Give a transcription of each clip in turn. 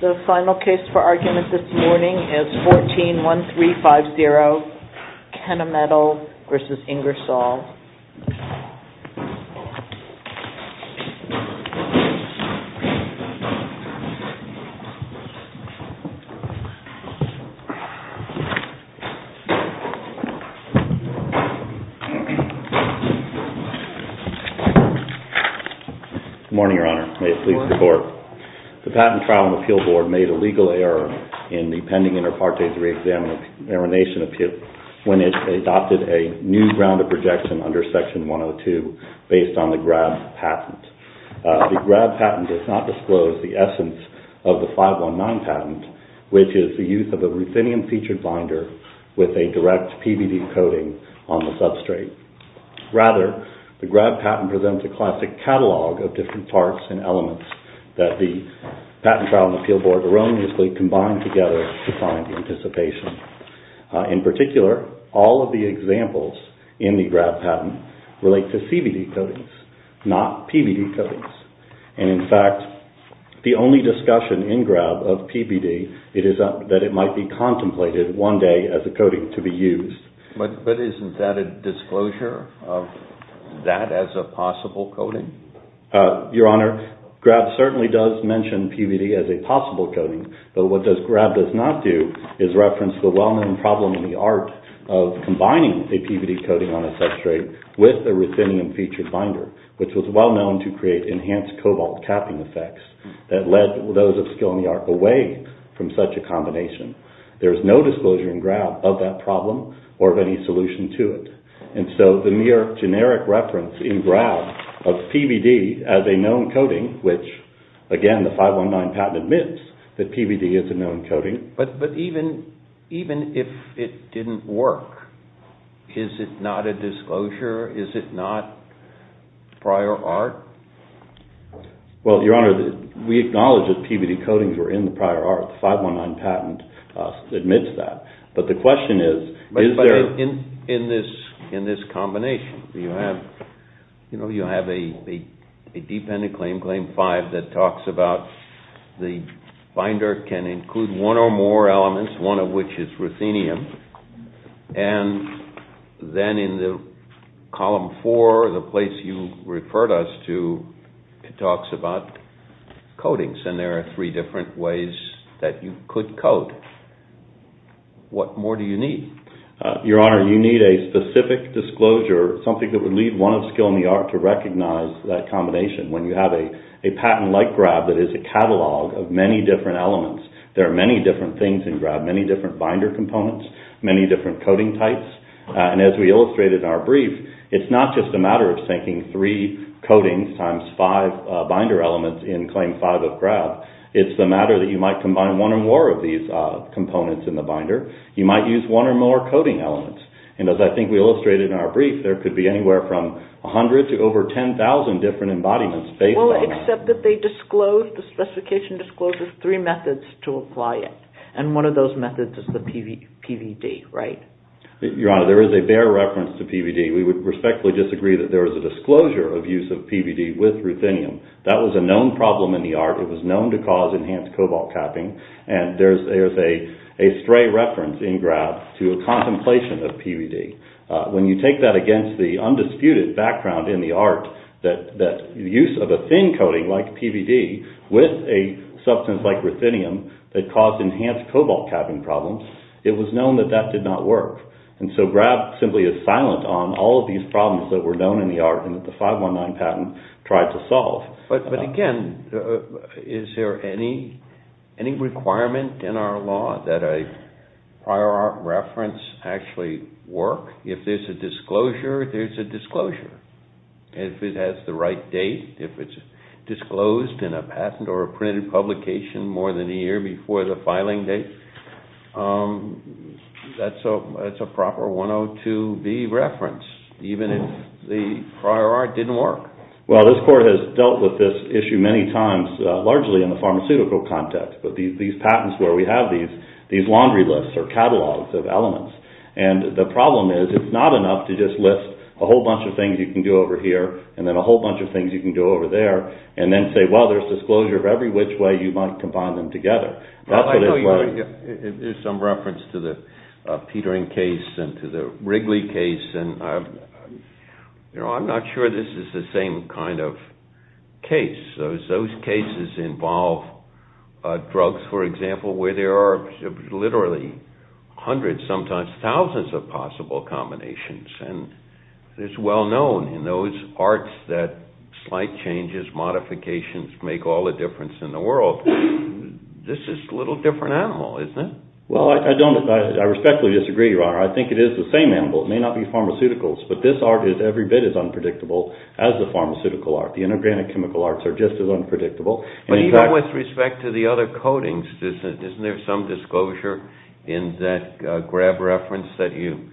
The final case for argument this morning is 14-1350, Kennametal v. Ingersoll Good morning, Your Honor. May it please the Court. The Patent Trial and Appeal Board made a legal error in the pending Inter Partes Reexamination Appeal when it adopted a new round of projection under Section 102 based on the GRAB patent. The GRAB patent does not disclose the essence of the 519 patent, which is the use of a ruthenium-featured binder with a direct PVD coating on the substrate. Rather, the GRAB patent presents a classic catalog of different parts and elements that the Patent Trial and Appeal Board erroneously combine together to find anticipation. In particular, all of the examples in the GRAB patent relate to CVD coatings, not PVD coatings. And, in fact, the only discussion in GRAB of PVD is that it might be contemplated one day as a coating to be used. But isn't that a disclosure of that as a possible coating? Your Honor, GRAB certainly does mention PVD as a possible coating, but what GRAB does not do is reference the well-known problem in the art of combining a PVD coating on a substrate with a ruthenium-featured binder, which was well known to create enhanced cobalt capping effects that led those of skill in the art away from such a combination. There is no disclosure in GRAB of that problem or of any solution to it. And so the mere generic reference in GRAB of PVD as a known coating, which, again, the 519 patent admits that PVD is a known coating. But even if it didn't work, is it not a disclosure? Is it not prior art? Well, Your Honor, we acknowledge that PVD coatings were in the prior art. The 519 patent admits that. But the question is, is there... But in this combination, you have a dependent claim, Claim 5, that talks about the binder can include one or more elements, one of which is ruthenium. And then in Column 4, the place you referred us to, it talks about coatings. And there are three different ways that you could coat. What more do you need? Your Honor, you need a specific disclosure, something that would leave one of skill in the art to recognize that combination. When you have a patent like GRAB that is a catalog of many different elements, there are many different things in GRAB, many different binder components, many different coating types. And as we illustrated in our brief, it's not just a matter of thinking three coatings times five binder elements in Claim 5 of GRAB. It's a matter that you might combine one or more of these components in the binder. You might use one or more coating elements. And as I think we illustrated in our brief, there could be anywhere from 100 to over 10,000 different embodiments based on that. Well, except that they disclose, the specification discloses three methods to apply it. And one of those methods is the PVD, right? Your Honor, there is a bare reference to PVD. We would respectfully disagree that there is a That was a known problem in the art. It was known to cause enhanced cobalt capping. And there's a stray reference in GRAB to a contemplation of PVD. When you take that against the undisputed background in the art, that use of a thin coating like PVD with a substance like ruthenium that caused enhanced cobalt capping problems, it was known that that did not work. And so GRAB simply is silent on all of these problems that were known in the art and that 519 patent tried to solve. But again, is there any requirement in our law that a prior art reference actually work? If there's a disclosure, there's a disclosure. If it has the right date, if it's disclosed in a patent or a printed publication more than a year before the filing date, that's a proper 102B reference, even if the prior art didn't work. Well, this Court has dealt with this issue many times, largely in the pharmaceutical context. But these patents where we have these laundry lists or catalogs of elements, and the problem is it's not enough to just list a whole bunch of things you can do over here and then a whole bunch of things you can do over there and then say, well, there's disclosure of every which way you might combine them together. I know there's some reference to the Petering case and to the Wrigley case, and I'm not sure this is the same kind of case. Those cases involve drugs, for example, where there are literally hundreds, sometimes thousands of possible combinations. And it's well known in those arts that slight changes, modifications make all the difference in the world. This is a little different animal, isn't it? Well, I respectfully disagree, Your Honor. I think it is the same animal. It may not be pharmaceuticals, but this art is every bit as unpredictable as the pharmaceutical art. The inorganic chemical arts are just as unpredictable. But even with respect to the other coatings, isn't there some disclosure in that Grab reference that you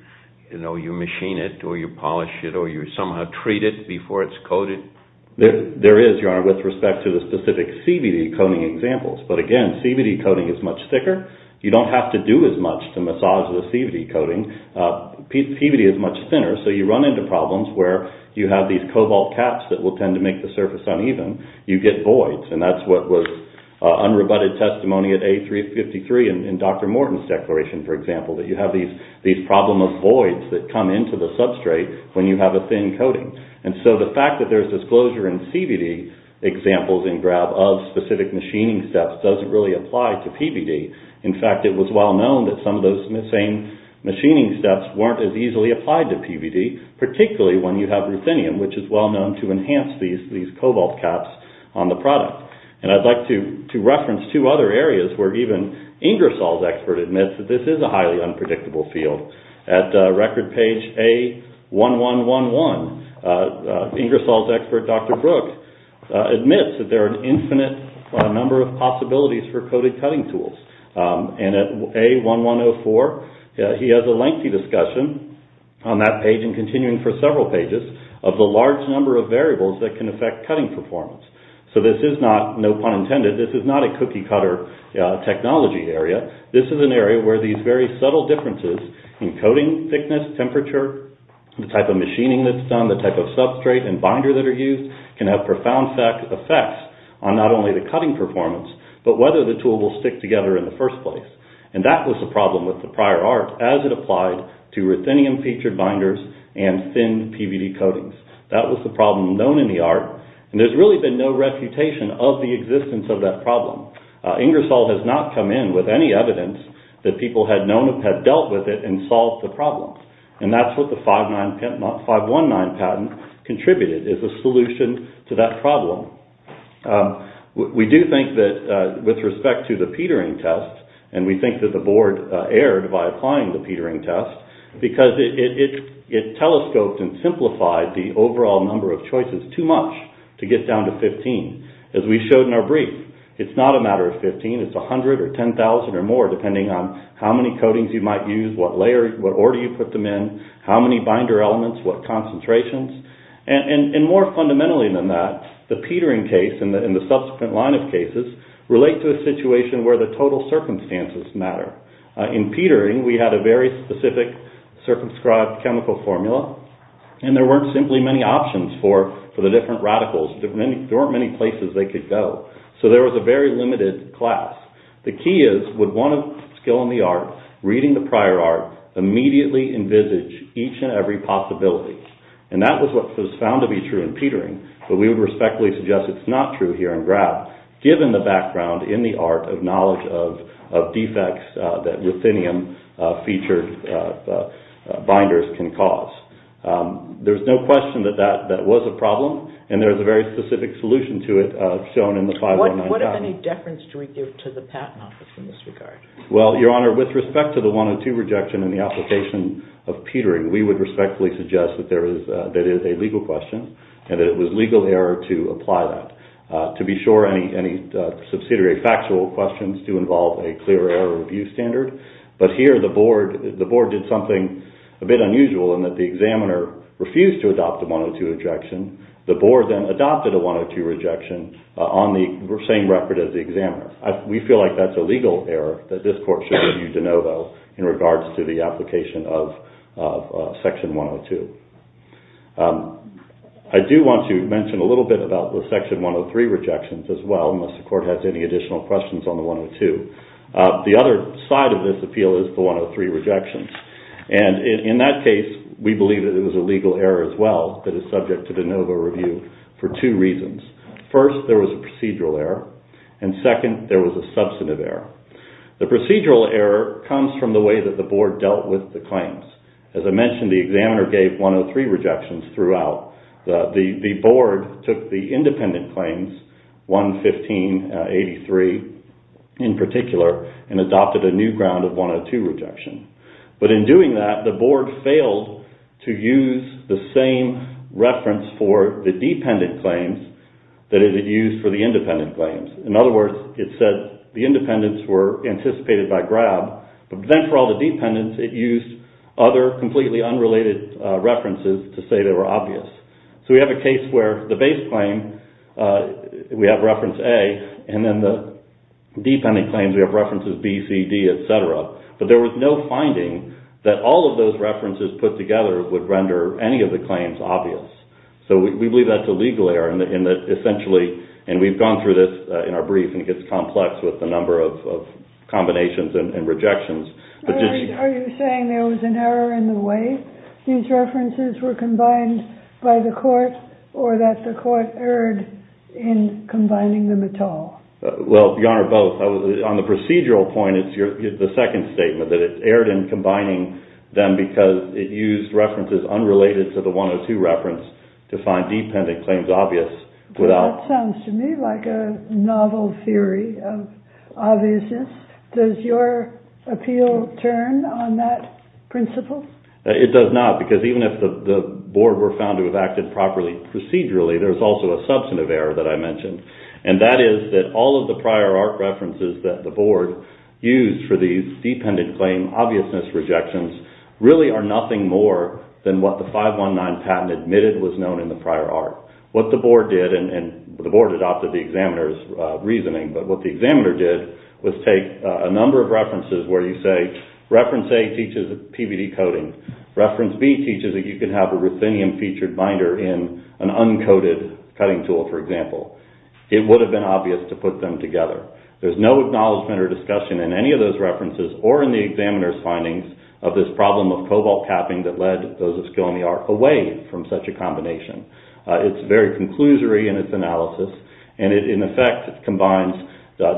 machine it or you polish it or you somehow treat it before it's coated? There is, Your Honor, with respect to the specific CVD coating examples. But again, CVD coating is much thicker. You don't have to do as much to massage the CVD coating. CVD is much thinner, so you run into problems where you have these cobalt caps that will tend to make the surface uneven. You get voids, and that's what was unrebutted testimony at A353 in Dr. Morton's declaration, for example, that you have these problem of voids that come into the substrate when you have a thin coating. And so the fact that there's disclosure in CVD examples in Grab of specific machining steps doesn't really apply to PVD. In fact, it was well known that some of those same machining steps weren't as easily applied to PVD, particularly when you have ruthenium, which is well known to enhance these cobalt caps on the product. And I'd like to reference two other areas where even Ingersoll's expert admits that this is a highly unpredictable field. At record page A1111, Ingersoll's expert, Dr. Brook, admits that there are an infinite number of possibilities for coated cutting tools. And at A1104, he has a lengthy discussion on that page and continuing for several pages of the large number of variables that can affect cutting performance. So this is not, pun intended, this is not a cookie cutter technology area. This is an area where these very subtle differences in coating thickness, temperature, the type of machining that's done, the type of substrate and binder that are used can have profound effects on not only the cutting performance, but whether the tool will stick together in the first place. And that was a problem with the prior art as it applied to ruthenium featured binders and thin PVD coatings. That was the problem known in the art. And there's really been no refutation of the existence of that problem. Ingersoll has not come in with any evidence that people had known, have dealt with it and solved the problem. And that's what the 519 patent contributed, is a solution to that problem. We do think that with respect to the petering test, and we think that the board erred by applying the petering test, because it telescoped and number of choices too much to get down to 15. As we showed in our brief, it's not a matter of 15, it's 100 or 10,000 or more, depending on how many coatings you might use, what order you put them in, how many binder elements, what concentrations. And more fundamentally than that, the petering case and the subsequent line of cases relate to a situation where the total circumstances matter. In petering, we had a very specific circumscribed chemical formula, and there weren't simply many options for the different radicals. There weren't many places they could go. So there was a very limited class. The key is, with one skill in the art, reading the prior art, immediately envisage each and every possibility. And that was what was found to be true in petering, but we would respectfully suggest it's not true here in graph, given the background in the art of knowledge of defects that ruthenium featured binders can cause. There's no question that that was a problem, and there's a very specific solution to it shown in the 519 document. What of any deference do we give to the Patent Office in this regard? Well, Your Honor, with respect to the 102 rejection in the application of petering, we would respectfully suggest that it is a legal question, and that it was legal error to apply that. To be sure, any subsidiary factual questions do involve a clear error review standard. But here the Board did something a bit unusual in that the examiner refused to adopt the 102 rejection. The Board then adopted a 102 rejection on the same record as the examiner. We feel like that's a legal error that this Court should review de novo in regards to the application of Section 102. I do want to mention a little bit about the Section 103 rejections as well, unless the Court has any additional questions on the 102. The other side of this appeal is the 103 rejections. In that case, we believe that it was a legal error as well that is subject to de novo review for two reasons. First, there was a procedural error, and second, there was a substantive error. The procedural error comes from the way that the Board dealt with the claims. As I mentioned, the examiner gave 103 rejections throughout. The Board took the independent claims 115, 83 in particular, and adopted a new ground of 102 rejection. But in doing that, the Board failed to use the same reference for the dependent claims that it used for the independent claims. In other words, it said the independents were anticipated by Grab, but then for all the dependents, it used other completely unrelated references to say they were obvious. So we have a case where the base claim, we have reference A, and then the dependent claims, we have references B, C, D, etc. But there was no finding that all of those references put together would render any of the claims obvious. So we believe that's a legal error in that essentially, and we've gone through this in our brief, and it gets complex with the number of combinations and rejections. Are you saying there was an error in the way these references were combined by the Court, or that the Court erred in combining them at all? Well, Your Honor, both. On the procedural point, it's the second statement, that it erred in combining them because it used references unrelated to the 102 reference to find dependent claims obvious without... That sounds to me like a novel theory of obviousness. Does your appeal turn on that principle? It does not, because even if the board were found to have acted properly procedurally, there's also a substantive error that I mentioned, and that is that all of the prior art references that the board used for these dependent claim obviousness rejections really are nothing more than what the 519 patent admitted was known in the prior art. What the board did, and the board adopted the examiner's reasoning, but what the examiner did was take a number of references where you say reference A teaches PVD coding, reference B teaches that you can have a ruthenium-featured binder in an uncoated cutting tool, for example. It would have been obvious to put them together. There's no acknowledgement or discussion in any of those references or in the examiner's findings of this problem of cobalt capping that led those of skill in the art away from such a combination. It's very conclusory in its analysis, and it in effect combines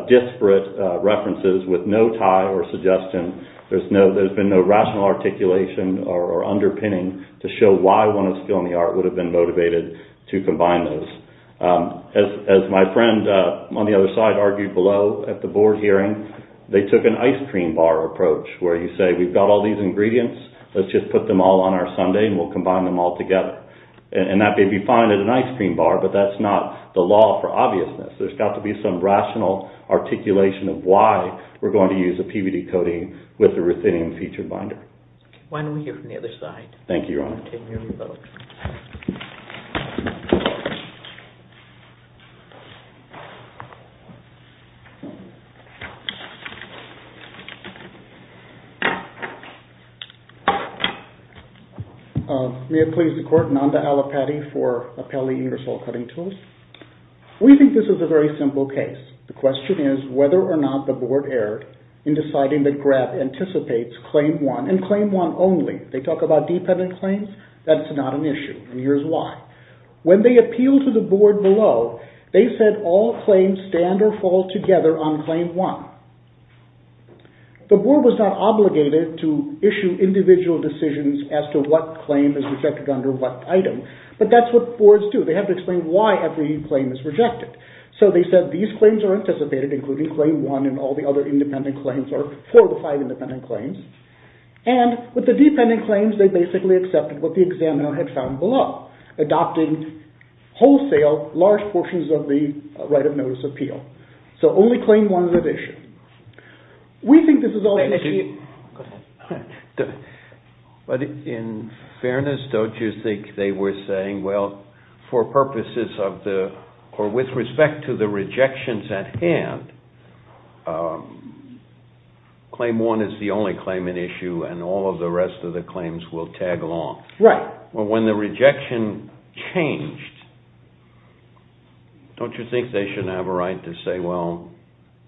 disparate references with no tie or suggestion. There's been no rational articulation or underpinning to show why one of skill in the art would have been motivated to combine those. As my friend on the other side argued below at the board hearing, they took an ice cream bar approach where you say we've got all these ingredients, let's just put them all on our sundae and we'll combine them all together. And that may be fine at an ice cream bar, but that's not the law for obviousness. There's got to be some rational articulation of why we're going to use a PVD coating with a ruthenium-featured binder. Why don't we hear from the other side? Thank you, Your Honor. May it please the Court, Nanda Allapatti for Appelli Ingersoll Cutting Tools. We think this is a very simple case. The question is whether or not the board erred in deciding that Graff anticipates Claim 1 and Claim 1 only. They talk about dependent claims. That's not an issue, and here's why. When they appeal to the board below, they said all claims stand or fall together on Claim 1. The board was not obligated to issue individual decisions as to what claim is rejected under what item, but that's what boards do. They have to explain why every claim is rejected. So they said these claims are anticipated, including Claim 1 and all the other independent claims, or four to five independent claims. And with the dependent claims, they basically accepted what the examiner had found below, adopting wholesale large portions of the right of notice appeal. So only Claim 1 is at issue. Thank you. But in fairness, don't you think they were saying, well, for purposes of the, or with respect to the rejections at hand, Claim 1 is the only claim at issue, and all of the rest of the claims will tag along? Right. Well, when the rejection changed, don't you think they should have a right to say, well,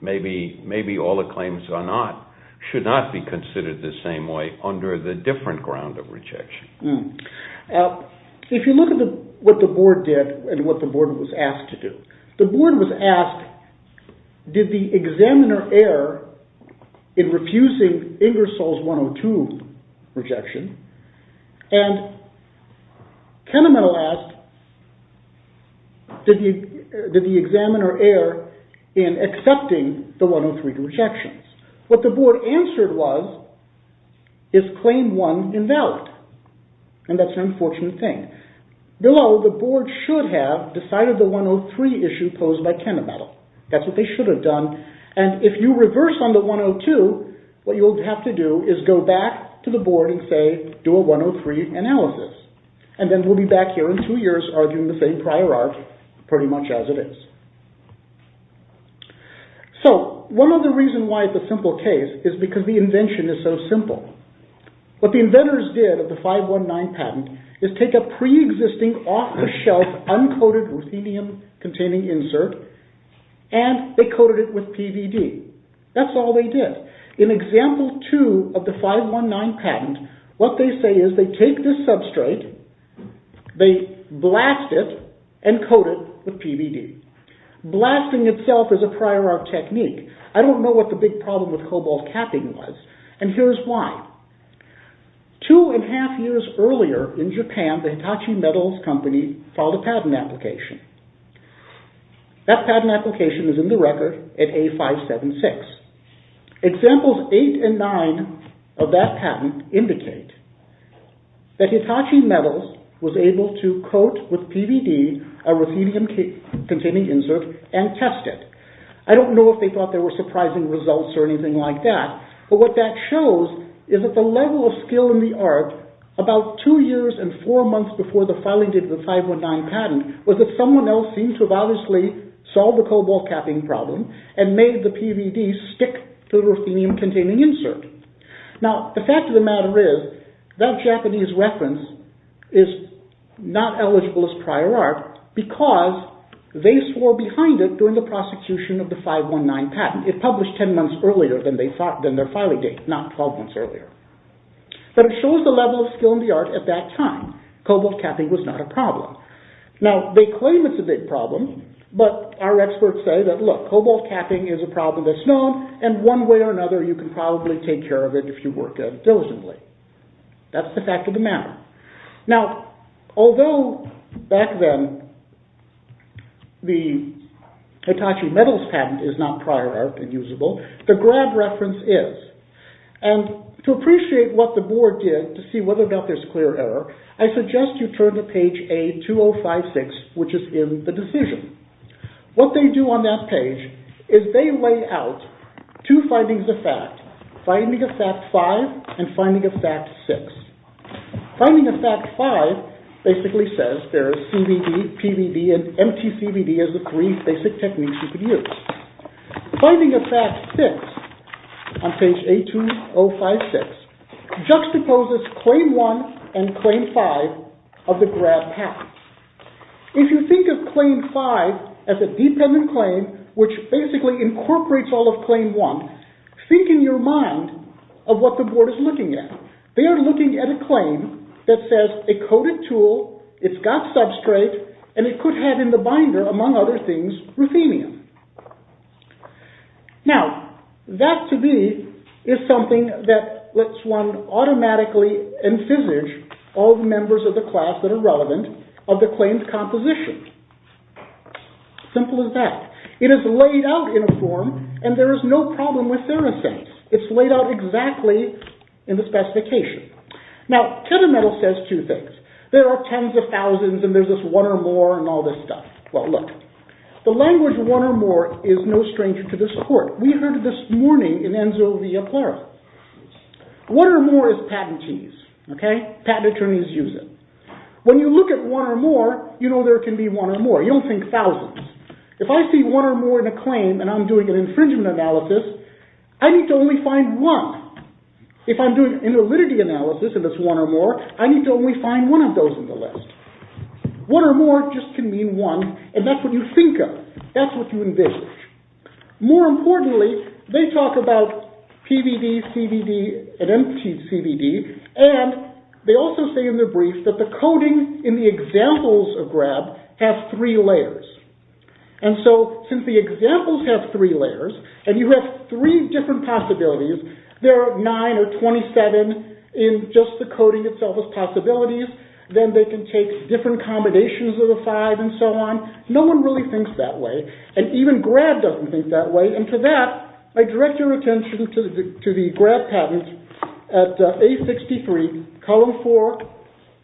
maybe all the claims are not, should not be considered the same way under the different ground of rejection? If you look at what the board did and what the board was asked to do, the board was asked, did the examiner err in refusing Ingersoll's 102 rejection? And Kennemann asked, did the examiner err in accepting the 103 rejections? What the board answered was, is Claim 1 invalid? And that's an unfortunate thing. Below, the board should have decided the 103 issue posed by Kennemann. That's what they should have done. And if you reverse on the 102, what you'll have to do is go back to the board and say, do a 103 analysis. And then we'll be here in two years arguing the same prior art, pretty much as it is. So, one of the reasons why it's a simple case is because the invention is so simple. What the inventors did with the 519 patent is take a pre-existing, off-the-shelf, uncoated ruthenium-containing insert, and they coated it with PVD. That's all they did. In example 2 of the 519 patent, what they say is they take this substrate, they blast it, and coat it with PVD. Blasting itself is a prior art technique. I don't know what the big problem with cobalt capping was, and here's why. Two and a half years earlier in Japan, the Hitachi Metals Company filed a patent application. That patent application is in the record at A576. Examples 8 and 9 of that patent indicate that Hitachi Metals was able to coat with PVD a ruthenium-containing insert and test it. I don't know if they thought there were surprising results or anything like that, but what that shows is that the level of skill in the art about two years and four months before the filing date of the 519 patent was that someone else seemed to have obviously solved the cobalt capping problem and made the PVD stick to the ruthenium-containing insert. Now, the fact of the matter is that Japanese reference is not eligible as prior art because they swore behind it during the prosecution of the 519 patent. It published 10 months earlier than their filing date, not 12 months earlier. But it shows the level of skill in the art at that time. Cobalt capping was not a problem. Now, they claim it's a big problem, but our experts say that, look, cobalt capping is a problem that's known and one way or another you can probably take care of it if you work diligently. That's the fact of the matter. Now, although back then the Hitachi Metals patent is not prior art and usable, the Grab reference is. And to appreciate what the board did to see whether there's clear error, I suggest you turn to page A2056, which is in the decision. What they do on that page is they lay out two findings of fact, finding of fact five and finding of fact six. Finding of fact five basically says there's CVD, PVD, and MTCVD as the three basic techniques you could use. Finding of fact six on page A2056 juxtaposes claim one and claim five of the Grab patent. If you think of claim five as a dependent claim, which basically incorporates all of claim one, think in your mind of what the board is looking at. They are looking at a claim that says a coded tool, it's got substrate, and it could have in the binder, among other things, ruthenium. Now, that to me is something that lets one automatically envisage all the members of the class that are relevant of the claimed composition. Simple as that. It is laid out in a form and there is no problem with sericent. It's laid out exactly in the specification. Now, Ketametal says two things. There are tens of thousands and there's this one or more and all this stuff. Well, look. The language one or more is no stranger to this court. We heard this morning in Enzo Via Plara. One or more is patentees, okay? Patent attorneys use it. When you look at one or more, you know there can be one or more. You don't think thousands. If I see one or more in a claim and I'm doing an infringement analysis, I need to only find one. If I'm doing an validity analysis and it's one or more, I need to only find one of those in the list. One or more just can mean one and that's what you think of. That's what you envision. More importantly, they talk about PVD, CVD, and empty CVD, and they also say in their brief that the coding in the examples of three layers, and you have three different possibilities. There are nine or 27 in just the coding itself as possibilities. Then they can take different combinations of the five and so on. No one really thinks that way, and even Grab doesn't think that way, and for that, I direct your attention to the Grab patent at A63, column four,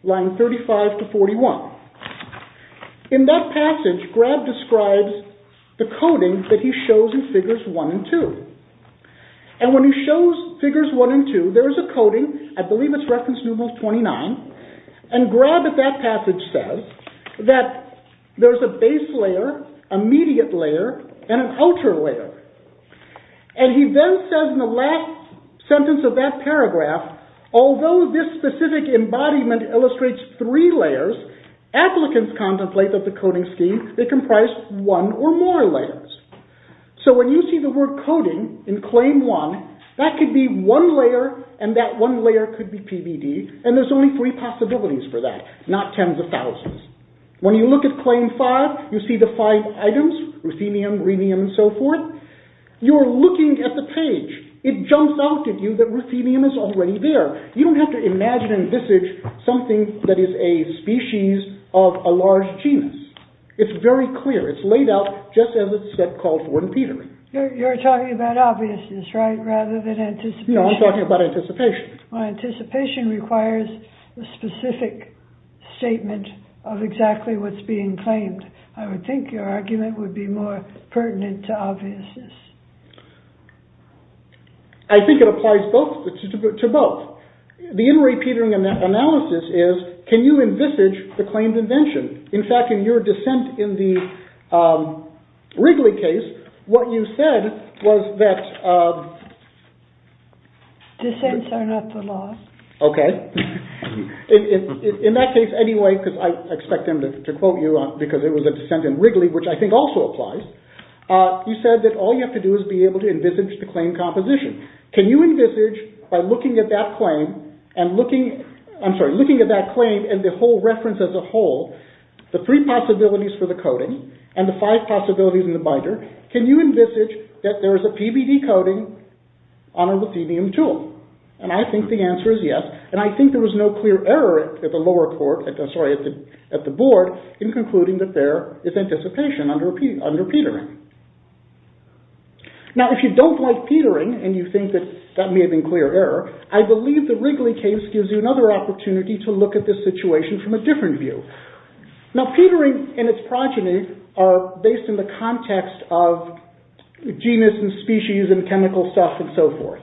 line 35 to 41. In that passage, Grab describes the coding that he shows in figures one and two, and when he shows figures one and two, there is a coding. I believe it's reference numeral 29, and Grab at that passage says that there's a base layer, immediate layer, and an outer layer, and he then says in the last sentence of that paragraph, although this specific embodiment illustrates three layers, applicants contemplate that the coding scheme may comprise one or more layers. So when you see the word coding in claim one, that could be one layer, and that one layer could be PVD, and there's only three possibilities for that, not tens of thousands. When you look at claim five, you see the five items, ruthenium, rhenium, and so forth. You're looking at the page. It jumps out at you that ruthenium is already there. You don't have to imagine and envisage something that is a species of a large genus. It's very clear. It's laid out just as it's called for in petering. You're talking about obviousness, right, rather than anticipation? No, I'm talking about anticipation. Well, anticipation requires a specific statement of exactly what's being claimed. I would think your argument would be more pertinent to obviousness. I think it applies to both. The in re-petering analysis is, can you envisage the claimed invention? In fact, in your dissent in the Wrigley case, what you said was that... Dissents are not the law. Okay. In that case, anyway, because I expect them to quote you because it was a dissent in Wrigley, which I think also applies, you said that all you have to do is be able to envisage the claimed composition. Can you envisage, by looking at that claim and the whole reference as a whole, the three possibilities for the coding and the five possibilities in the binder, can you envisage that there is a PBD coding on a ruthenium tool? I think the answer is yes, and I think there was no clear error at the lower court, sorry, at the board, in concluding that there is anticipation under petering. Now, if you don't like petering and you think that that may have been clear error, I believe the Wrigley case gives you another opportunity to look at this situation from a different view. Now, petering and its progeny are based in the context of genus and species and chemical stuff and so forth.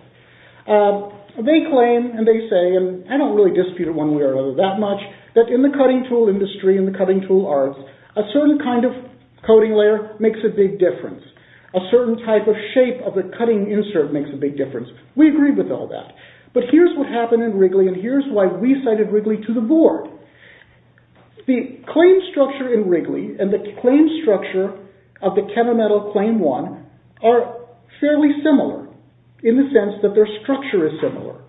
They claim, and they say, and I don't really dispute it one way or another that much, that in the cutting tool industry, in the cutting tool arts, a certain kind of coding layer makes a big difference. A certain type of shape of the cutting insert makes a big difference. We agree with all that, but here's what happened in Wrigley and here's why we cited Wrigley to the board. The claim structure in Wrigley and the claim structure of the chemometal claim one are fairly similar, in the sense that their structure is similar.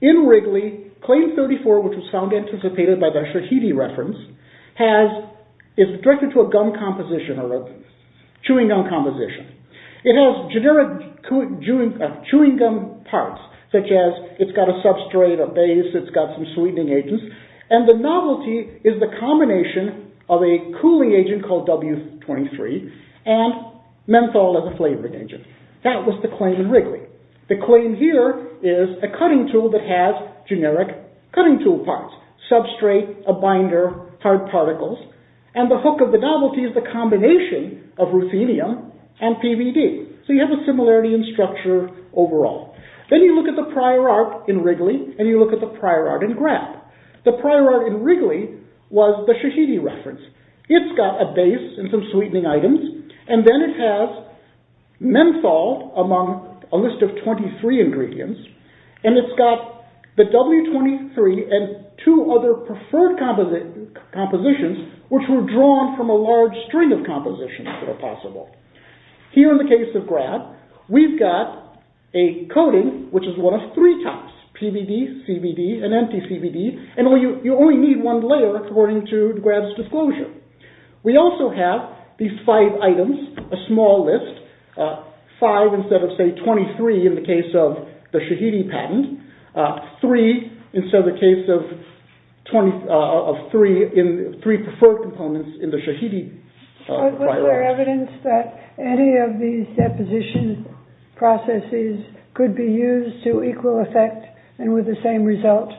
In Wrigley, claim 34, which was found anticipated by the Shahidi reference, is directed to a gum composition or a chewing gum composition. It has generic chewing gum parts, such as it's got a substrate, a base, it's got some sweetening agents, and the novelty is the combination of a cooling agent called W23 and menthol as a flavoring agent. That was the claim in Wrigley. The claim here is a cutting tool that has generic cutting tool parts, substrate, a binder, hard particles, and the hook of the novelty is the combination of ruthenium and PVD. So you have a similarity in structure overall. Then you look at the prior art in Wrigley and you look at the prior art in Grapp. The prior art in Wrigley was the Shahidi reference. It's got a among a list of 23 ingredients, and it's got the W23 and two other preferred compositions, which were drawn from a large string of compositions that are possible. Here in the case of Grapp, we've got a coating, which is one of three types, PVD, CBD, and anti-CBD, and you only need one layer according to Grapp's disclosure. We also have these five items, a small list, five instead of say 23 in the case of the Shahidi patent, three instead of the case of three preferred components in the Shahidi prior art. Was there evidence that any of these deposition processes could be used to equal effect and with the same result?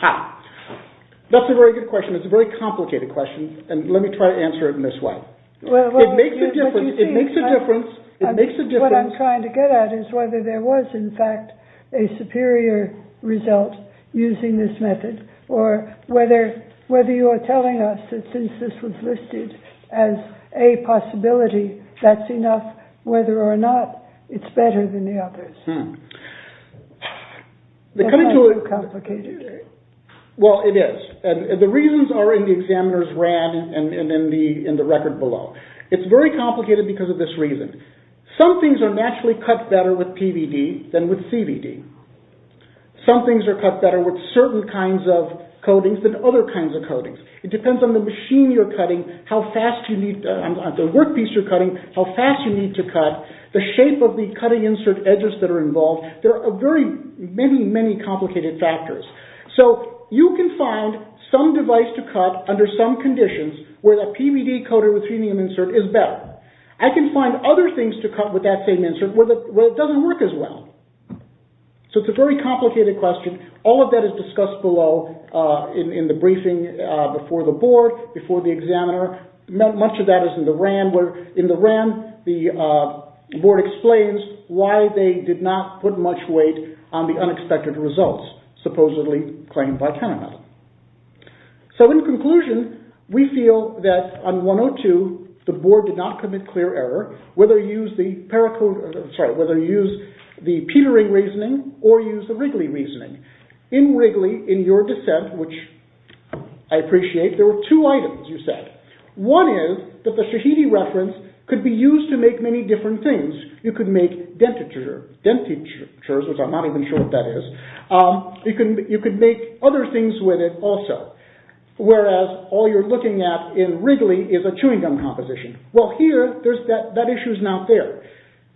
How? That's a very good question. It's a very complicated question, and let me try to answer it in this way. It makes a difference. What I'm trying to get at is whether there was, in fact, a superior result using this method, or whether you are telling us that since this was listed as a possibility, that's enough, whether or not it's better than the others. That's a little complicated. Well, it is. The reasons are in the examiner's rad and in the record below. It's very complicated because of this reason. Some things are naturally cut better with PVD than with CBD. Some things are cut better with certain kinds of coatings than other kinds of coatings. It depends on the machine you're cutting, the workpiece you're cutting, how fast you need to cut, the shape of the cutting insert edges that are involved. There are many, many complicated factors. So, you can find some device to cut under some conditions where that PVD coated with phenium insert is better. I can find other things to cut with that same insert where it doesn't work as well. So, it's a very complicated question. All of that is discussed below in the board explains why they did not put much weight on the unexpected results supposedly claimed by Panama. So, in conclusion, we feel that on 102, the board did not commit clear error, whether you use the Petering reasoning or use the Wrigley reasoning. In Wrigley, in your dissent, which I appreciate, there were two items you said. One is that the Shahidi reference could be used to make many different things. You could make dentatures, which I'm not even sure what that is. You could make other things with it also. Whereas, all you're looking at in Wrigley is a chewing gum composition. Well, here, that issue is not there.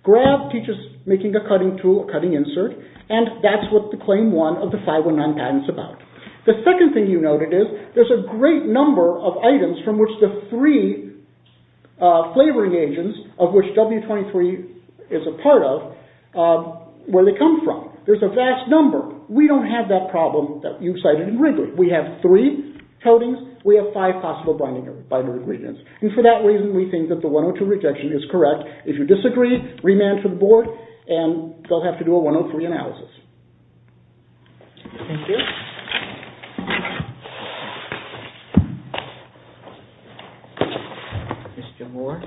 Grab teaches making a cutting tool, a cutting insert, and that's what the claim 1 of the 519 patent is about. The second thing you noted is there's a number of items from which the three flavoring agents of which W23 is a part of, where they come from. There's a vast number. We don't have that problem that you've cited in Wrigley. We have three coatings. We have five possible binder ingredients. And for that reason, we think that the 102 rejection is correct. If you disagree, remand to the board and they'll have to do a 103 analysis. Thank you. Mr. Moore.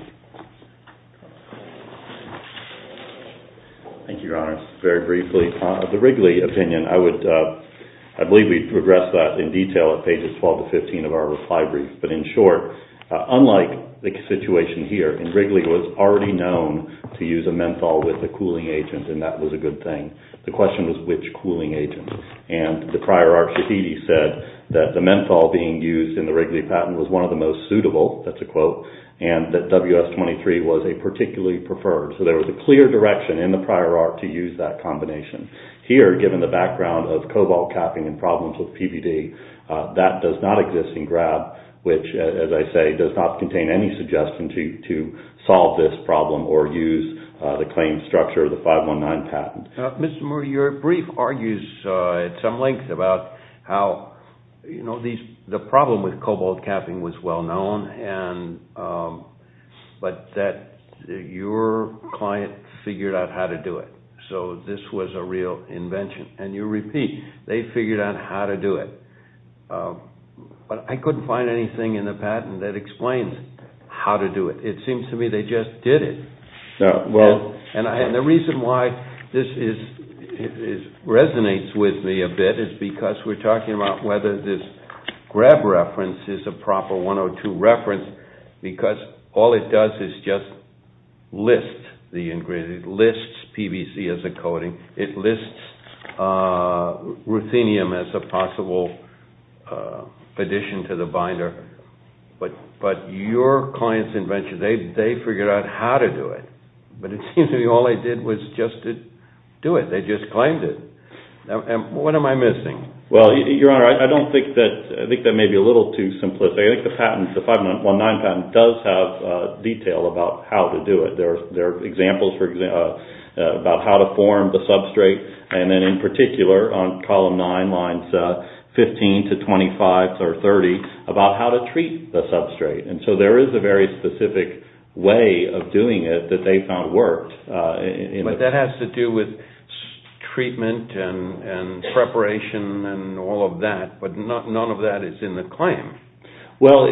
Thank you, Your Honor. Very briefly, the Wrigley opinion, I believe we progressed that in detail at pages 12 to 15 of our reply brief. But in short, unlike the situation here, Wrigley was already known to use a menthol with a cooling agent, and that was a good thing. The question was which cooling agent. And the prior arc said that the menthol being used in the Wrigley patent was one of the most suitable, that's a quote, and that WS23 was a particularly preferred. So there was a clear direction in the prior arc to use that combination. Here, given the background of cobalt capping and problems with PBD, that does not exist in Grab, which, as I say, does not contain any suggestion to solve this problem or use the claim structure of the 519 patent. Mr. Moore, your brief argues at some length about how the problem with cobalt capping was well known, but that your client figured out how to do it. So this was a real invention. And you repeat, they figured out how to do it. But I couldn't find anything in the patent that explains how to do it. It seems to me they just did it. And the reason why this resonates with me a bit is because we're talking about whether this Grab reference is a proper 102 reference, because all it does is just list the ingredient. It lists PBC as a coating. It lists ruthenium as a possible addition to the binder. But your client's invention, they figured out how to do it. But it seems to me all they did was just do it. They just claimed it. What am I missing? Well, Your Honor, I don't think that, I think that may be a little too simplistic. I think the patent, the 519 patent, does have detail about how to do it. There are examples about how to form the substrate. And then in particular, on column 9, lines 15 to 25 or 30, about how to treat the substrate. And so there is a very specific way of doing it that they found worked. But that has to do with treatment and preparation and all of that. But none of that is in the claim. Well,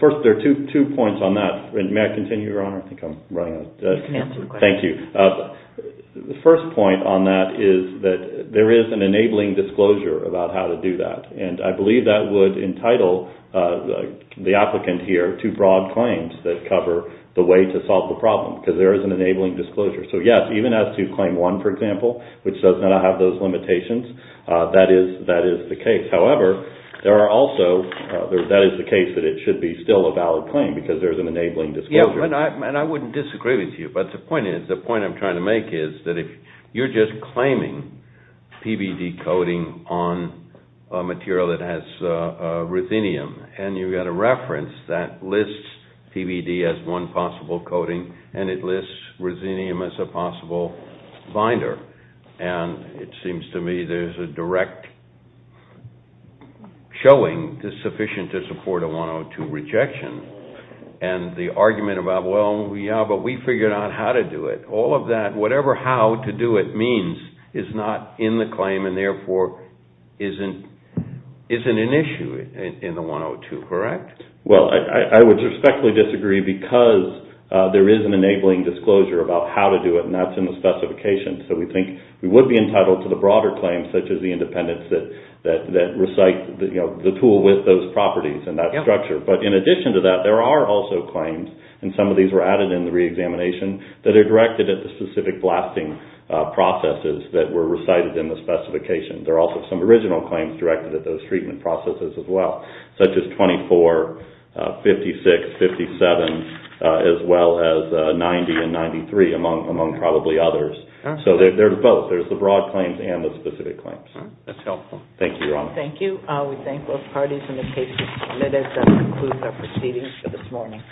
first, two points on that. May I continue, Your Honor? I think I'm running out of time. You can answer the question. Thank you. The first point on that is that there is an enabling disclosure about how to do that. And I believe that would entitle the applicant here to broad claims that cover the way to solve the problem, because there is an enabling disclosure. So yes, even as to Claim 1, for example, which does not have those limitations, that is the case. However, there are also, that is the case that it should be still a valid claim, because there is an enabling disclosure. And I wouldn't disagree with you. But the point is, the point I'm trying to make is that if you're just claiming PVD coating on a material that has ruthenium, and you've got a reference that lists PVD as one possible coating, and it lists ruthenium as a possible binder. And it is sufficient to support a 102 rejection. And the argument about, well, yeah, but we figured out how to do it. All of that, whatever how to do it means, is not in the claim, and therefore, isn't an issue in the 102, correct? Well, I would respectfully disagree, because there is an enabling disclosure about how to do it, and that's in the specification. So we think we would be entitled to the broader claims, such as the independence that recite the tool with those properties and that structure. But in addition to that, there are also claims, and some of these were added in the reexamination, that are directed at the specific blasting processes that were recited in the specification. There are also some original claims directed at those treatment processes as well, such as 24, 56, 57, as well as 90 and 93, among probably others. So there's both. There's the broad claims and the specific claims. That's helpful. Thank you, Your Honor. Thank you. We thank both parties and the case is submitted. That concludes our proceedings for this morning.